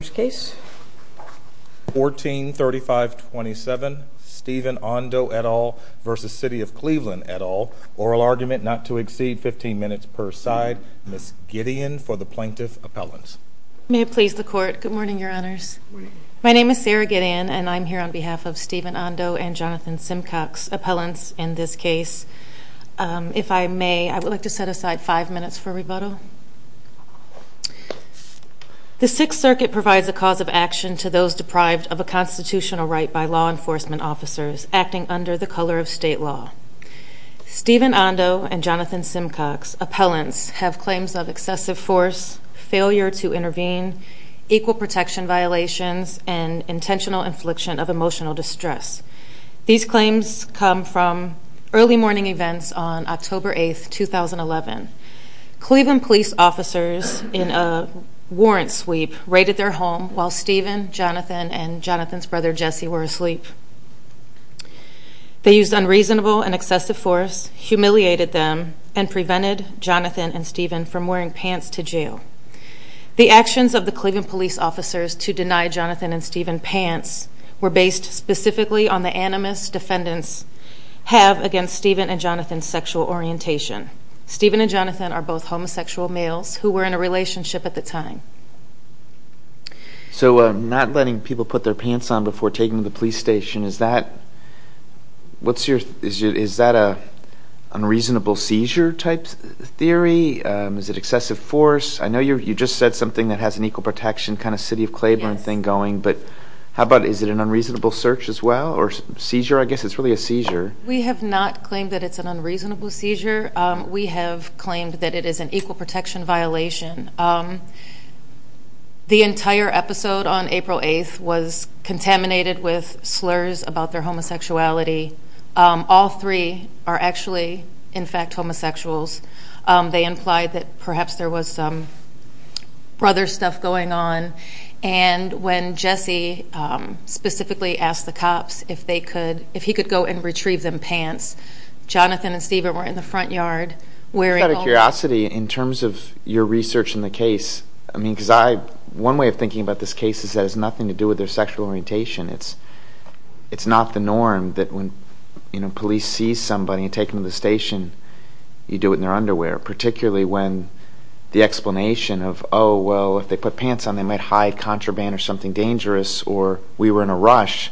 143527 Stephen Ondo et al. v. City of Cleveland et al. Oral argument not to exceed 15 minutes per side. Ms. Gideon for the plaintiff's appellants. May it please the court. Good morning, your honors. My name is Sarah Gideon and I'm here on behalf of Stephen Ondo and Jonathan Simcox's appellants in this case. If I may, I would like to set aside five minutes for rebuttal. The Sixth Circuit provides a cause of action to those deprived of a constitutional right by law enforcement officers acting under the color of state law. Stephen Ondo and Jonathan Simcox's appellants have claims of excessive force, failure to intervene, equal protection violations, and intentional infliction of emotional distress. These claims come from early morning events on October 8, 2011. Cleveland police officers in a warrant sweep raided their home while Stephen, Jonathan, and Jonathan's brother Jesse were asleep. They used unreasonable and excessive force, humiliated them, and prevented Jonathan and Stephen from wearing pants to jail. The actions of the Cleveland police officers to deny Jonathan and Stephen pants were based specifically on the animus defendants have against Stephen and Jonathan's sexual orientation. Stephen and Jonathan are both homosexual males who were in a relationship at the time. So not letting people put their pants on before taking them to the police station, is that unreasonable seizure type theory? Is it excessive force? I know you just said something that has an equal protection kind of city of Cleveland thing going, but how about is it an unreasonable search as well? Or seizure? I guess it's really a seizure. We have not claimed that it's an unreasonable seizure. We have claimed that it is an equal protection violation. The entire episode on April 8th was contaminated with slurs about their homosexuality. All three are actually, in fact, homosexuals. They implied that perhaps there was some brother stuff going on. And when Jesse specifically asked the cops if he could go and retrieve them pants, Jonathan and Stephen were in the front yard. Out of curiosity, in terms of your research in the case, I mean, because one way of thinking about this case is that it has nothing to do with their sexual orientation. It's not the norm that when police see somebody and take them to the station, you do it in their underwear. Particularly when the explanation of, oh, well, if they put pants on, they might hide contraband or something dangerous, or we were in a rush.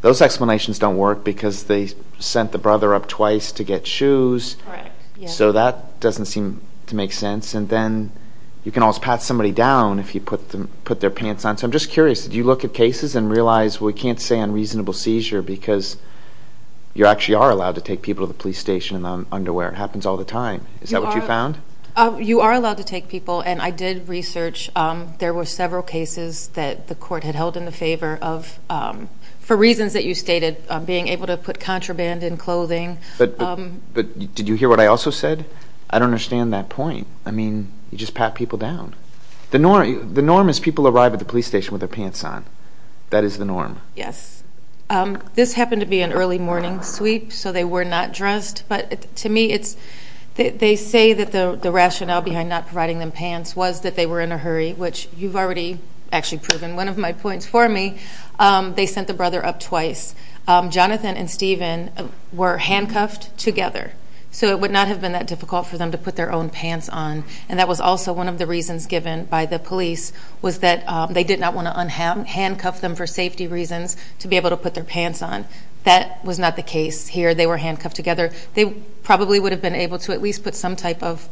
Those explanations don't work because they sent the brother up twice to get shoes. Correct. So that doesn't seem to make sense. And then you can always pat somebody down if you put their pants on. So I'm just curious. Do you look at cases and realize, well, we can't say unreasonable seizure because you actually are allowed to take people to the police station in underwear. It happens all the time. Is that what you found? You are allowed to take people. And I did research. There were several cases that the court had held in the favor of, for reasons that you stated, being able to put contraband in clothing. But did you hear what I also said? I don't understand that point. I mean, you just pat people down. The norm is people arrive at the police station with their pants on. That is the norm. Yes. This happened to be an early morning sweep, so they were not dressed. But to me, they say that the rationale behind not providing them pants was that they were in a hurry, which you've already actually proven one of my points for me. They sent the brother up twice. Jonathan and Steven were handcuffed together, so it would not have been that difficult for them to put their own pants on. And that was also one of the reasons given by the police was that they did not want to handcuff them for safety reasons to be able to put their pants on. That was not the case here. They were handcuffed together. They probably would have been able to at least put some type of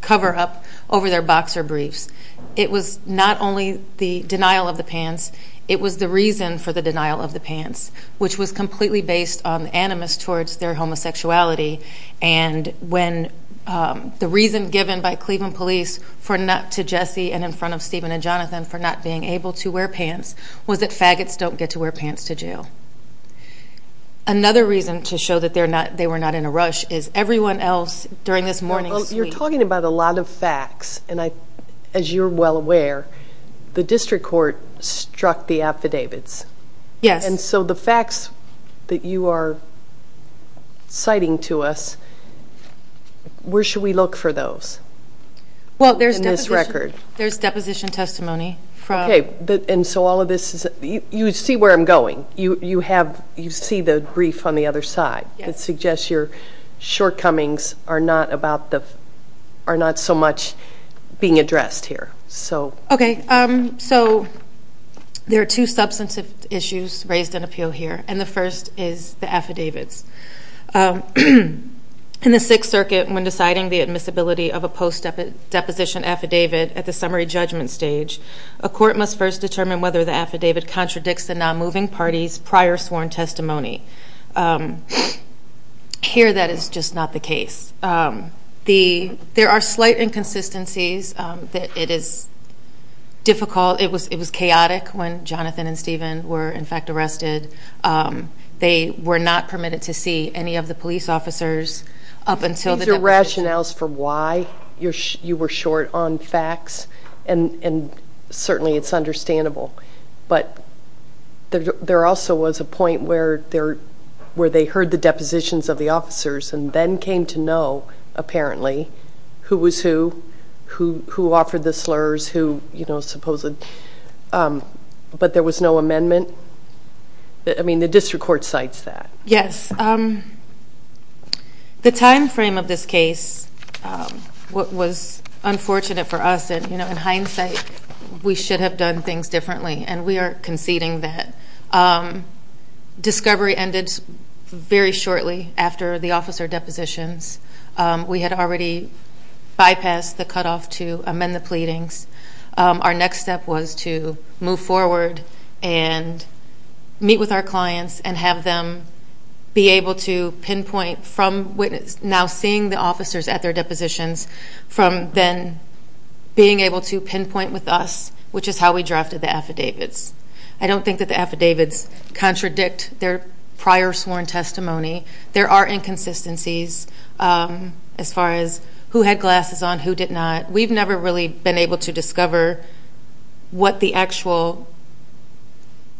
cover-up over their boxer briefs. It was not only the denial of the pants. It was the reason for the denial of the pants, which was completely based on animus towards their homosexuality. And when the reason given by Cleveland police to Jesse and in front of Steven and Jonathan for not being able to wear pants was that faggots don't get to wear pants to jail. Another reason to show that they were not in a rush is everyone else during this morning's meeting. Well, you're talking about a lot of facts, and as you're well aware, the district court struck the affidavits. Yes. And so the facts that you are citing to us, where should we look for those in this record? Well, there's deposition testimony. Okay, and so all of this is you see where I'm going. You see the brief on the other side that suggests your shortcomings are not so much being addressed here. Okay, so there are two substantive issues raised in appeal here, and the first is the affidavits. In the Sixth Circuit, when deciding the admissibility of a post-deposition affidavit at the summary judgment stage, a court must first determine whether the affidavit contradicts the non-moving party's prior sworn testimony. Here, that is just not the case. There are slight inconsistencies that it is difficult. It was chaotic when Jonathan and Steven were, in fact, arrested. They were not permitted to see any of the police officers up until the deposition. These are rationales for why you were short on facts, and certainly it's understandable. But there also was a point where they heard the depositions of the officers and then came to know, apparently, who was who, who offered the slurs, who, you know, supposedly. But there was no amendment? I mean, the district court cites that. Yes. The time frame of this case was unfortunate for us. You know, in hindsight, we should have done things differently, and we are conceding that. Discovery ended very shortly after the officer depositions. We had already bypassed the cutoff to amend the pleadings. Our next step was to move forward and meet with our clients and have them be able to pinpoint from now seeing the officers at their depositions from then being able to pinpoint with us, which is how we drafted the affidavits. I don't think that the affidavits contradict their prior sworn testimony. There are inconsistencies as far as who had glasses on, who did not. We've never really been able to discover what the actual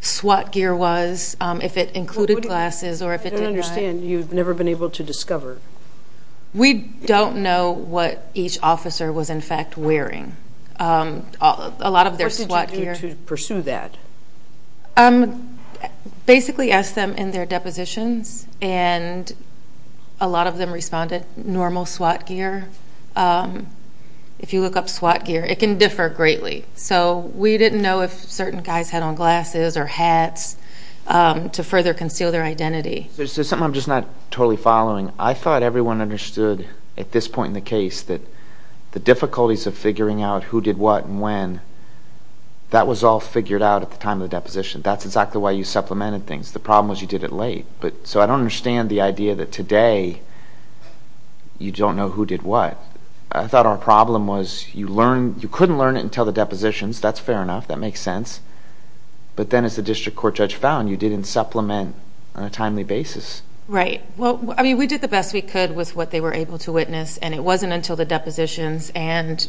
SWAT gear was, if it included glasses or if it did not. I don't understand. You've never been able to discover. We don't know what each officer was, in fact, wearing. A lot of their SWAT gear. What did you do to pursue that? Basically asked them in their depositions, and a lot of them responded, normal SWAT gear. If you look up SWAT gear, it can differ greatly. So we didn't know if certain guys had on glasses or hats to further conceal their identity. There's something I'm just not totally following. I thought everyone understood at this point in the case that the difficulties of figuring out who did what and when, that was all figured out at the time of the deposition. That's exactly why you supplemented things. The problem was you did it late. So I don't understand the idea that today you don't know who did what. I thought our problem was you couldn't learn it until the depositions. That's fair enough. That makes sense. But then as the district court judge found, you didn't supplement on a timely basis. Right. We did the best we could with what they were able to witness, and it wasn't until the depositions. And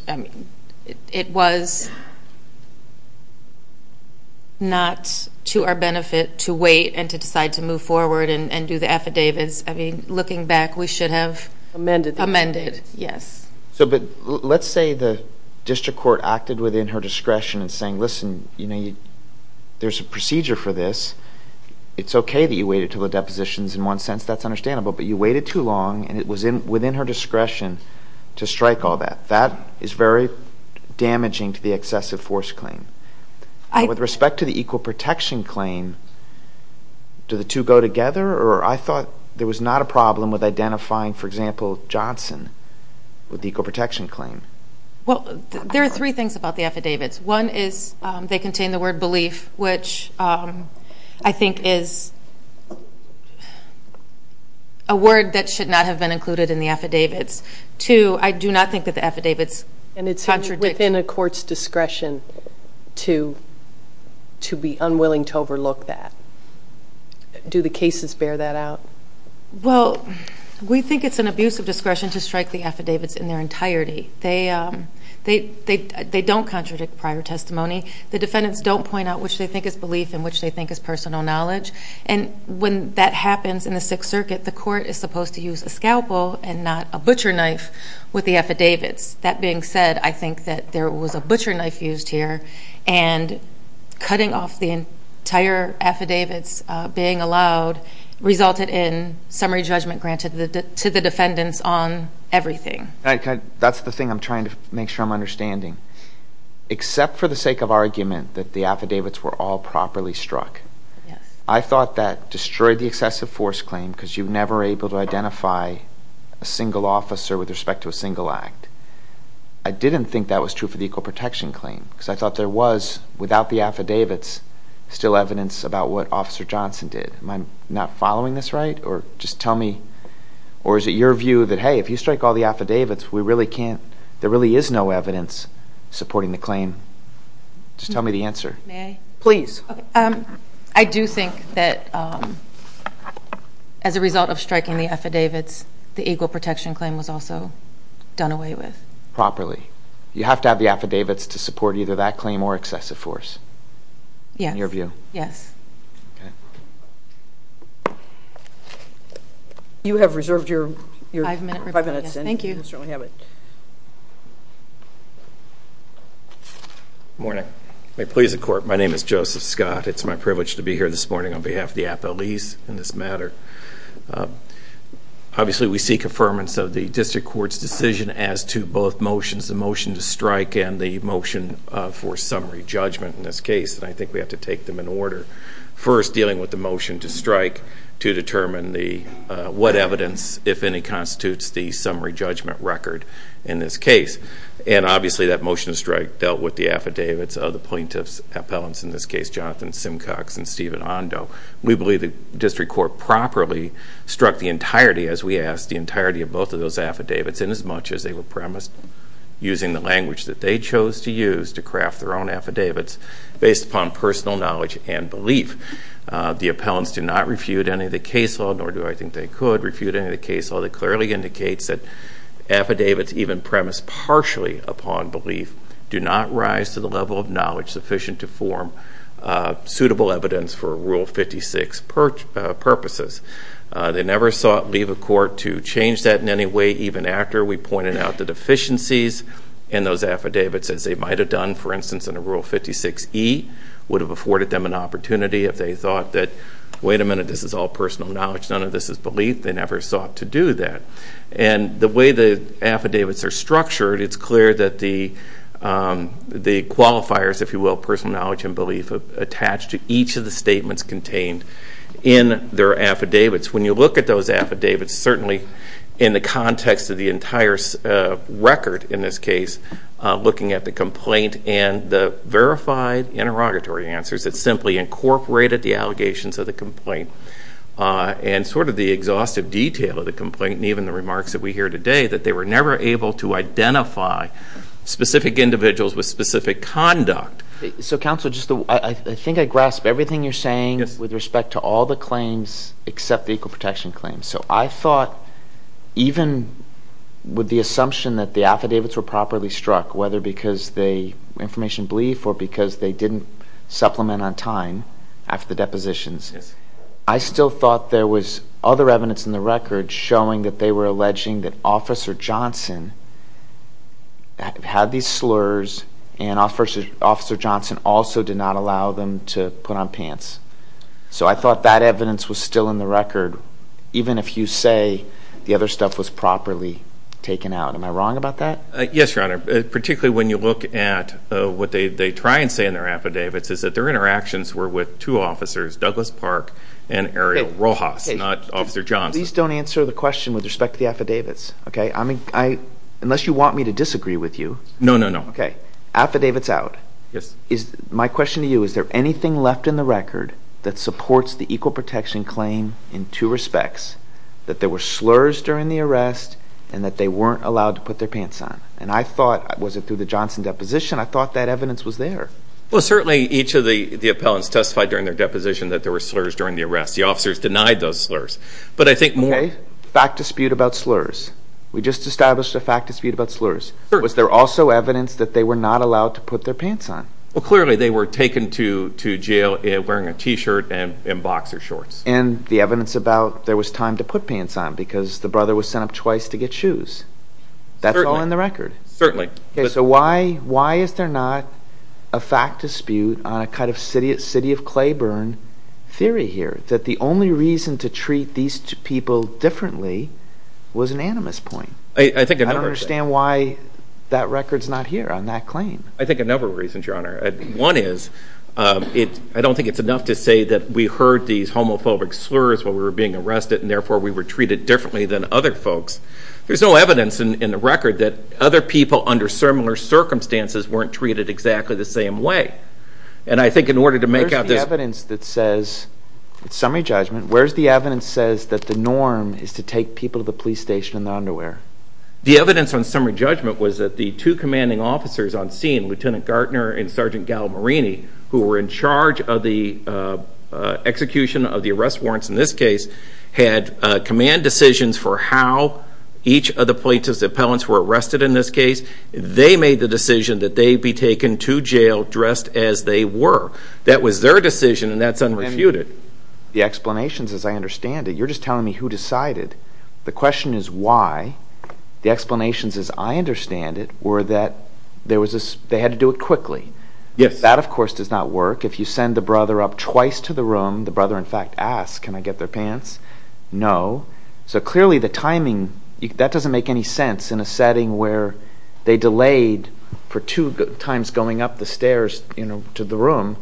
it was not to our benefit to wait and to decide to move forward and do the affidavits. I mean, looking back, we should have amended. Yes. But let's say the district court acted within her discretion in saying, listen, there's a procedure for this. It's okay that you waited until the depositions. In one sense, that's understandable. But you waited too long, and it was within her discretion to strike all that. That is very damaging to the excessive force claim. With respect to the equal protection claim, do the two go together? Or I thought there was not a problem with identifying, for example, Johnson with the equal protection claim. Well, there are three things about the affidavits. One is they contain the word belief, which I think is a word that should not have been included in the affidavits. Two, I do not think that the affidavits contradict. And it's within a court's discretion to be unwilling to overlook that. Do the cases bear that out? Well, we think it's an abuse of discretion to strike the affidavits in their entirety. They don't contradict prior testimony. The defendants don't point out which they think is belief and which they think is personal knowledge. And when that happens in the Sixth Circuit, the court is supposed to use a scalpel and not a butcher knife with the affidavits. That being said, I think that there was a butcher knife used here, and cutting off the entire affidavits being allowed resulted in summary judgment granted to the defendants on everything. That's the thing I'm trying to make sure I'm understanding. Except for the sake of argument that the affidavits were all properly struck, I thought that destroyed the excessive force claim because you're never able to identify a single officer with respect to a single act. I didn't think that was true for the equal protection claim because I thought there was, without the affidavits, still evidence about what Officer Johnson did. Am I not following this right? Or is it your view that, hey, if you strike all the affidavits, there really is no evidence supporting the claim? Just tell me the answer. May I? Please. I do think that as a result of striking the affidavits, the equal protection claim was also done away with. Properly. You have to have the affidavits to support either that claim or excessive force. Yes. In your view. Yes. Okay. You have reserved your five minutes. Thank you. You certainly have it. Good morning. May it please the Court, my name is Joseph Scott. It's my privilege to be here this morning on behalf of the appellees in this matter. Obviously, we seek affirmance of the District Court's decision as to both motions, the motion to strike and the motion for summary judgment in this case, and I think we have to take them in order. First, dealing with the motion to strike to determine what evidence, if any, constitutes the summary judgment record in this case. And obviously, that motion to strike dealt with the affidavits of the plaintiff's appellants, in this case, Jonathan Simcox and Stephen Ondo. We believe the District Court properly struck the entirety, as we asked, the entirety of both of those affidavits, and as much as they were premised, using the language that they chose to use to craft their own affidavits, based upon personal knowledge and belief. The appellants do not refute any of the case law, nor do I think they could refute any of the case law, that clearly indicates that affidavits even premised partially upon belief do not rise to the level of knowledge sufficient to form suitable evidence for Rule 56 purposes. They never sought leave of court to change that in any way, even after we pointed out the deficiencies in those affidavits, as they might have done, for instance, in a Rule 56e, would have afforded them an opportunity if they thought that, wait a minute, this is all personal knowledge, none of this is belief. They never sought to do that. And the way the affidavits are structured, it's clear that the qualifiers, if you will, personal knowledge and belief attach to each of the statements contained in their affidavits. When you look at those affidavits, certainly in the context of the entire record in this case, looking at the complaint and the verified interrogatory answers that simply incorporated the allegations of the complaint and sort of the exhaustive detail of the complaint and even the remarks that we hear today, that they were never able to identify specific individuals with specific conduct. So, counsel, I think I grasp everything you're saying with respect to all the claims except the equal protection claims. So I thought even with the assumption that the affidavits were properly struck, whether because they were information of belief or because they didn't supplement on time after the depositions, I still thought there was other evidence in the record showing that they were alleging that Officer Johnson had these slurs and Officer Johnson also did not allow them to put on pants. So I thought that evidence was still in the record even if you say the other stuff was properly taken out. Am I wrong about that? Yes, Your Honor. Particularly when you look at what they try and say in their affidavits is that their interactions were with two officers, Douglas Park and Ariel Rojas, not Officer Johnson. Please don't answer the question with respect to the affidavits, okay? Unless you want me to disagree with you. No, no, no. Okay. Affidavits out. Yes. My question to you, is there anything left in the record that supports the equal protection claim in two respects, that there were slurs during the arrest and that they weren't allowed to put their pants on? And I thought, was it through the Johnson deposition? I thought that evidence was there. Well, certainly each of the appellants testified during their deposition that there were slurs during the arrest. The officers denied those slurs. Okay. Fact dispute about slurs. We just established a fact dispute about slurs. Was there also evidence that they were not allowed to put their pants on? Well, clearly they were taken to jail wearing a t-shirt and boxer shorts. And the evidence about there was time to put pants on because the brother was sent up twice to get shoes. That's all in the record. Certainly. So why is there not a fact dispute on a kind of city of clay burn theory here that the only reason to treat these two people differently was an animus point? I don't understand why that record's not here on that claim. I think a number of reasons, Your Honor. One is, I don't think it's enough to say that we heard these homophobic slurs when we were being arrested and therefore we were treated differently than other folks. There's no evidence in the record that other people under similar circumstances weren't treated exactly the same way. And I think in order to make out this... Where's the evidence that says, in summary judgment, that the norm is to take people to the police station in their underwear? The evidence on summary judgment was that the two commanding officers on scene, Lieutenant Gartner and Sergeant Gallimarini, who were in charge of the execution of the arrest warrants in this case, had command decisions for how each of the plaintiff's appellants were arrested in this case. They made the decision that they be taken to jail dressed as they were. That was their decision, and that's unrefuted. The explanations, as I understand it, you're just telling me who decided. The question is why. The explanations, as I understand it, were that they had to do it quickly. Yes. That, of course, does not work. If you send the brother up twice to the room, the brother in fact asks, can I get their pants? No. So clearly the timing, that doesn't make any sense in a setting where they delayed for two times going up the stairs to the room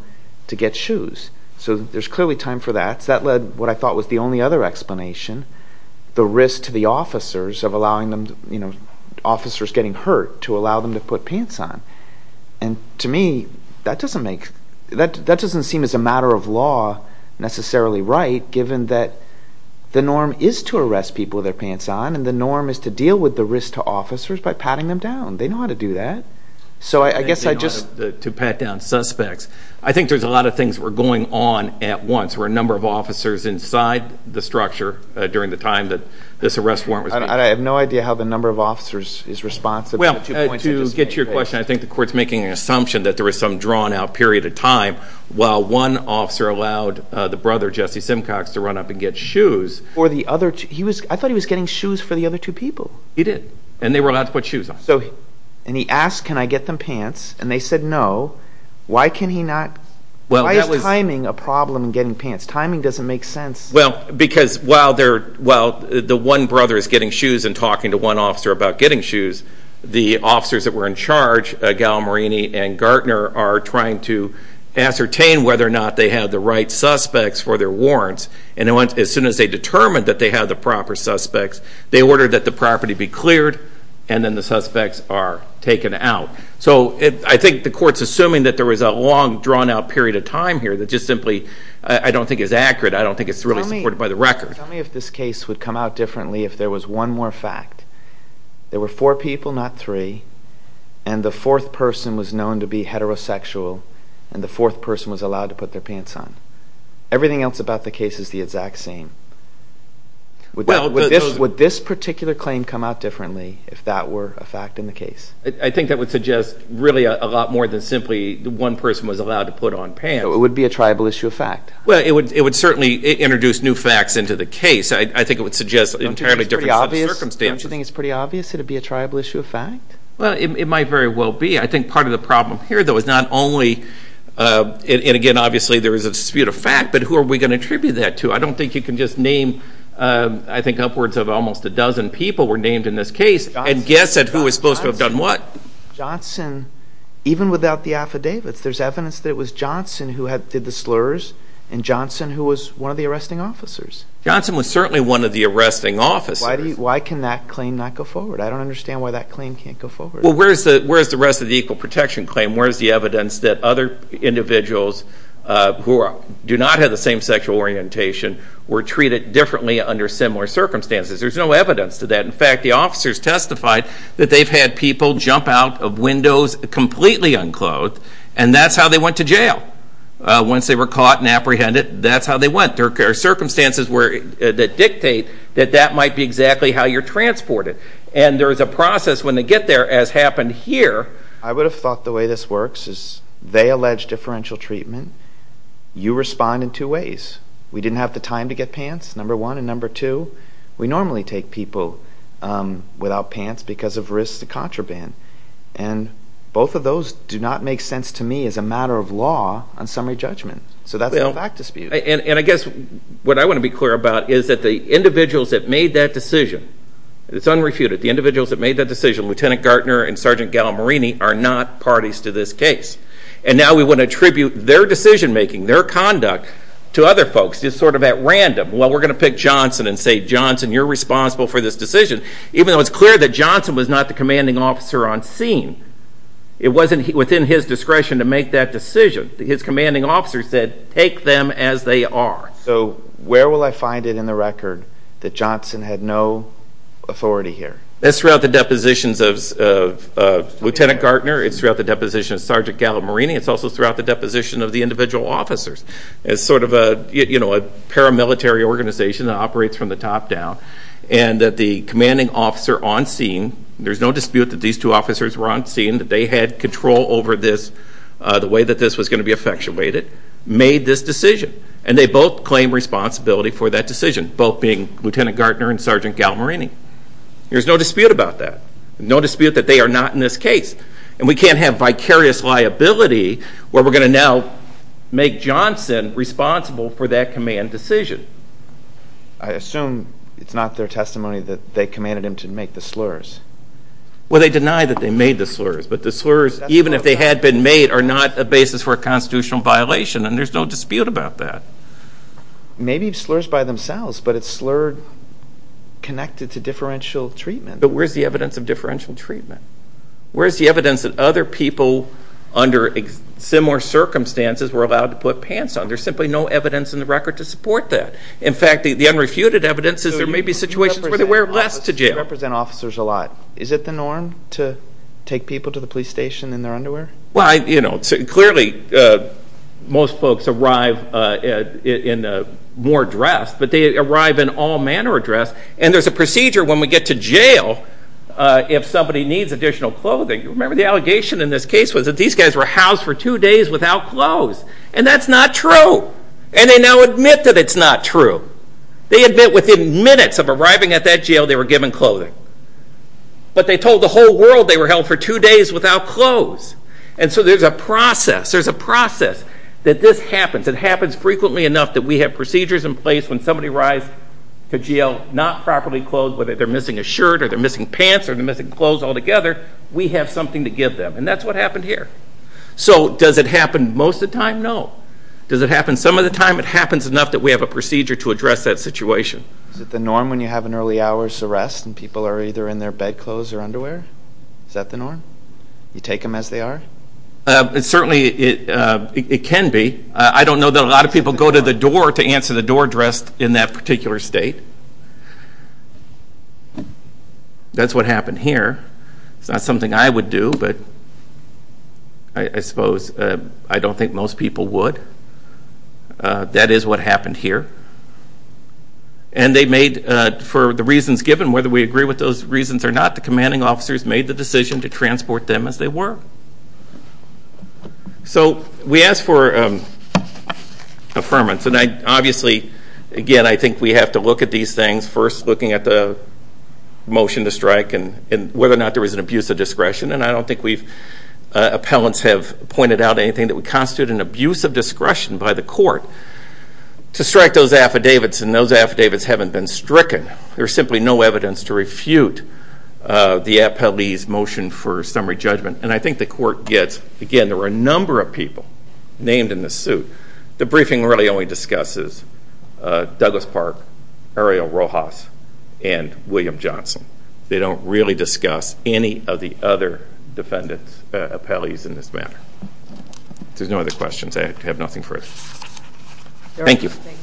to get shoes. So there's clearly time for that. That led, what I thought was the only other explanation, the risk to the officers of allowing them, you know, officers getting hurt to allow them to put pants on. And to me, that doesn't make, that doesn't seem as a matter of law necessarily right given that the norm is to arrest people with their pants on and the norm is to deal with the risk to officers by patting them down. They know how to do that. So I guess I just... To pat down suspects. I think there's a lot of things that were going on at once where a number of officers inside the structure during the time that this arrest warrant was made. I have no idea how the number of officers is responsive. Well, to get to your question, I think the court's making an assumption that there was some drawn out period of time while one officer allowed the brother, Jesse Simcox, to run up and get shoes. For the other two... I thought he was getting shoes for the other two people. He did. And they were allowed to put shoes on. And he asked, can I get them pants? And they said no. Why can he not? Why is timing a problem in getting pants? Timing doesn't make sense. Well, because while the one brother is getting shoes and talking to one officer about getting shoes, the officers that were in charge, Gallimareni and Gartner, are trying to ascertain whether or not they had the right suspects for their warrants. And as soon as they determined that they had the proper suspects, they ordered that the property be cleared and then the suspects are taken out. So I think the court's assuming that there was a long, drawn out period of time here that just simply I don't think is accurate. I don't think it's really supported by the record. Tell me if this case would come out differently if there was one more fact. There were four people, not three, and the fourth person was known to be heterosexual and the fourth person was allowed to put their pants on. Everything else about the case is the exact same. Would this particular claim come out differently if that were a fact in the case? I think that would suggest really a lot more than simply one person was allowed to put on pants. It would be a triable issue of fact. Well, it would certainly introduce new facts into the case. I think it would suggest entirely different circumstances. Don't you think it's pretty obvious it would be a triable issue of fact? Well, it might very well be. I think part of the problem here, though, is not only and, again, obviously there is a dispute of fact, but who are we going to attribute that to? I don't think you can just name, I think, upwards of almost a dozen people were named in this case and guess at who was supposed to have done what. Johnson, even without the affidavits, there's evidence that it was Johnson who did the slurs and Johnson who was one of the arresting officers. Johnson was certainly one of the arresting officers. Why can that claim not go forward? I don't understand why that claim can't go forward. Well, where is the rest of the equal protection claim? Where is the evidence that other individuals who do not have the same sexual orientation were treated differently under similar circumstances? There's no evidence to that. In fact, the officers testified that they've had people jump out of windows completely unclothed, and that's how they went to jail. Once they were caught and apprehended, that's how they went. There are circumstances that dictate that that might be exactly how you're transported. And there is a process when they get there, as happened here. I would have thought the way this works is they allege differential treatment, you respond in two ways. We didn't have the time to get pants, number one. And number two, we normally take people without pants because of risks of contraband. And both of those do not make sense to me as a matter of law on summary judgment. So that's a fact dispute. And I guess what I want to be clear about is that the individuals that made that decision, it's unrefuted, the individuals that made that decision, Lieutenant Gartner and Sergeant Gallimarini, are not parties to this case. And now we want to attribute their decision-making, their conduct to other folks, just sort of at random. Well, we're going to pick Johnson and say, Johnson, you're responsible for this decision, even though it's clear that Johnson was not the commanding officer on scene. It wasn't within his discretion to make that decision. His commanding officer said, take them as they are. So where will I find it in the record that Johnson had no authority here? That's throughout the depositions of Lieutenant Gartner. It's throughout the deposition of Sergeant Gallimarini. It's also throughout the deposition of the individual officers. It's sort of a paramilitary organization that operates from the top down. And that the commanding officer on scene, there's no dispute that these two officers were on scene, that they had control over this, the way that this was going to be effectuated, made this decision. And they both claim responsibility for that decision, both being Lieutenant Gartner and Sergeant Gallimarini. There's no dispute about that. No dispute that they are not in this case. And we can't have vicarious liability where we're going to now make Johnson responsible for that command decision. I assume it's not their testimony that they commanded him to make the slurs. Well, they deny that they made the slurs, but the slurs, even if they had been made, are not a basis for a constitutional violation, and there's no dispute about that. Maybe slurs by themselves, but it's slurred connected to differential treatment. But where's the evidence of differential treatment? Where's the evidence that other people under similar circumstances were allowed to put pants on? There's simply no evidence in the record to support that. In fact, the unrefuted evidence is there may be situations where they wear less to jail. You represent officers a lot. Is it the norm to take people to the police station in their underwear? Well, you know, clearly most folks arrive in more dress, but they arrive in all manner of dress, and there's a procedure when we get to jail if somebody needs additional clothing. Remember the allegation in this case was that these guys were housed for two days without clothes, and that's not true, and they now admit that it's not true. They admit within minutes of arriving at that jail they were given clothing. But they told the whole world they were held for two days without clothes, and so there's a process, there's a process that this happens. It happens frequently enough that we have procedures in place when somebody arrives to jail not properly clothed, whether they're missing a shirt or they're missing pants or they're missing clothes altogether, we have something to give them, and that's what happened here. So does it happen most of the time? No. Does it happen some of the time? It happens enough that we have a procedure to address that situation. Is it the norm when you have an early hours arrest and people are either in their bedclothes or underwear? Is that the norm? You take them as they are? Certainly it can be. I don't know that a lot of people go to the door to answer the door address in that particular state. That's what happened here. It's not something I would do, but I suppose I don't think most people would. That is what happened here. And they made, for the reasons given, whether we agree with those reasons or not, the commanding officers made the decision to transport them as they were. So we asked for affirmance, and I obviously again, I think we have to look at these things first looking at the motion to strike and whether or not there was an abuse of discretion, and I don't think appellants have pointed out anything that would constitute an abuse of discretion by the court to strike those affidavits, and those affidavits haven't been stricken. There's simply no evidence to refute the appellee's motion for summary judgment, and I think the court gets, again, there were a number of people named in this suit. The briefing really only discusses Douglas Park, Ariel Rojas, and William Johnson. They don't really discuss any of the other defendants, appellees in this matter. If there's no other questions, I have nothing further. Thank you. Thank you.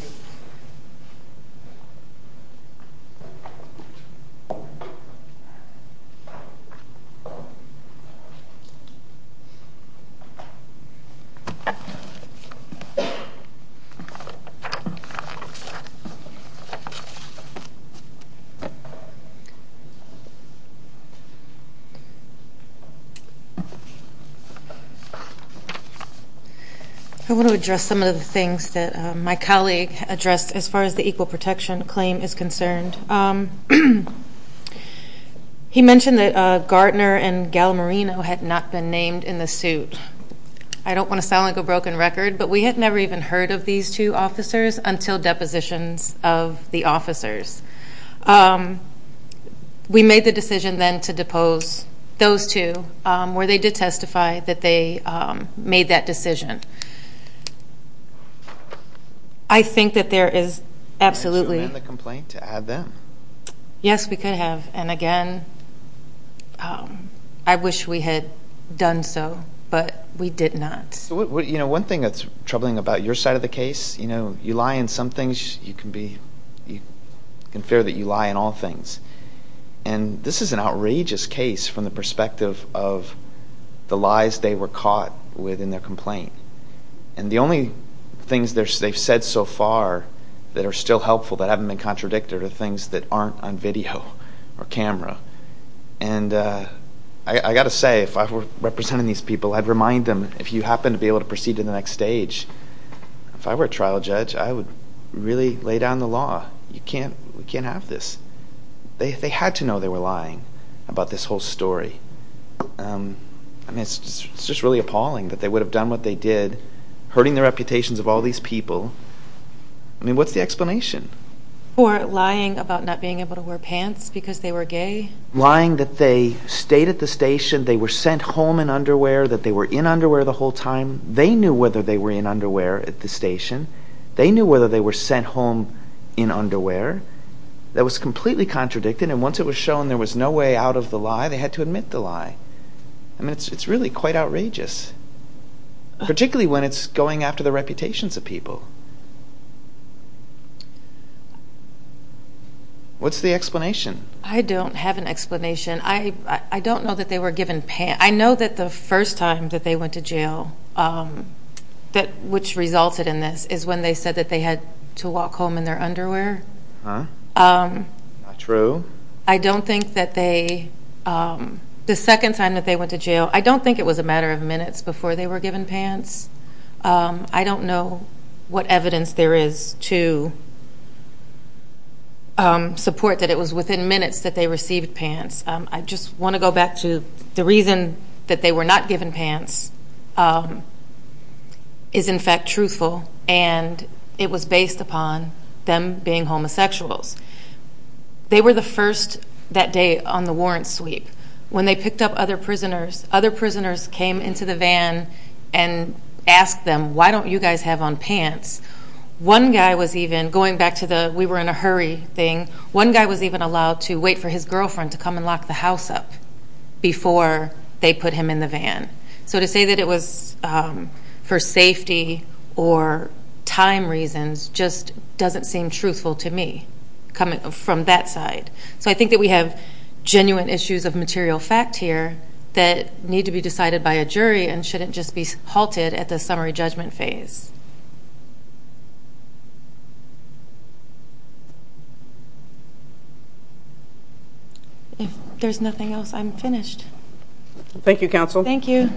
I want to address some of the things that my colleague addressed as far as the equal protection claim is concerned. He mentioned that Gartner and Gallimarino had not been named in the suit. I don't want to sound like a broken record, but we had never even heard of these two officers until depositions of the officers. We made the decision then to depose those two, where they did testify that they made that decision. I think that there is absolutely Can you amend the complaint to add them? Yes, we could have. Again, I wish we had done so, but we did not. One thing that's troubling about your side of the case, you know, you lie in some things, you can be unfair that you lie in all things. This is an outrageous case from the perspective of the lies they were caught within their complaint. The only things they've said so far that are still not on video or camera. I've got to say, if I were representing these people, I'd remind them, if you happen to be able to proceed to the next stage, if I were a trial judge, I would really lay down the law. We can't have this. They had to know they were lying about this whole story. It's just really appalling that they would have done what they did, hurting the reputations of all these people. I mean, what's the explanation? For lying about not being able to wear pants because they were gay? Lying that they stayed at the station, they were sent home in underwear, that they were in underwear the whole time. They knew whether they were in underwear at the station. They knew whether they were sent home in underwear. That was completely contradicted and once it was shown there was no way out of the lie, they had to admit the lie. I mean, it's really quite outrageous. Particularly when it's going after the reputations of people. What's the explanation? I don't have an explanation. I don't know that they were given pants. I know that the first time that they went to jail, which resulted in this, is when they said that they had to walk home in their underwear. Huh? Not true. I don't think that they the second time that they went to jail, I don't think it was a matter of minutes before they were given pants. I don't know what evidence there is to support that it was within minutes that they received pants. I just want to go back to the reason that they were not given pants is in fact truthful and it was based upon them being homosexuals. They were the first that day on the warrant sweep. When they picked up other prisoners, other prisoners came into the van and asked them, why don't you guys have on I was even going back to the we were in a hurry thing. One guy was even allowed to wait for his girlfriend to come and lock the house up before they put him in the van. To say that it was for safety or time reasons just doesn't seem truthful to me from that side. I think that we have genuine issues of material fact here that need to be decided by a jury and shouldn't just be halted at the summary judgment phase. If there's nothing else, I'm finished. Thank you, counsel. Thank you.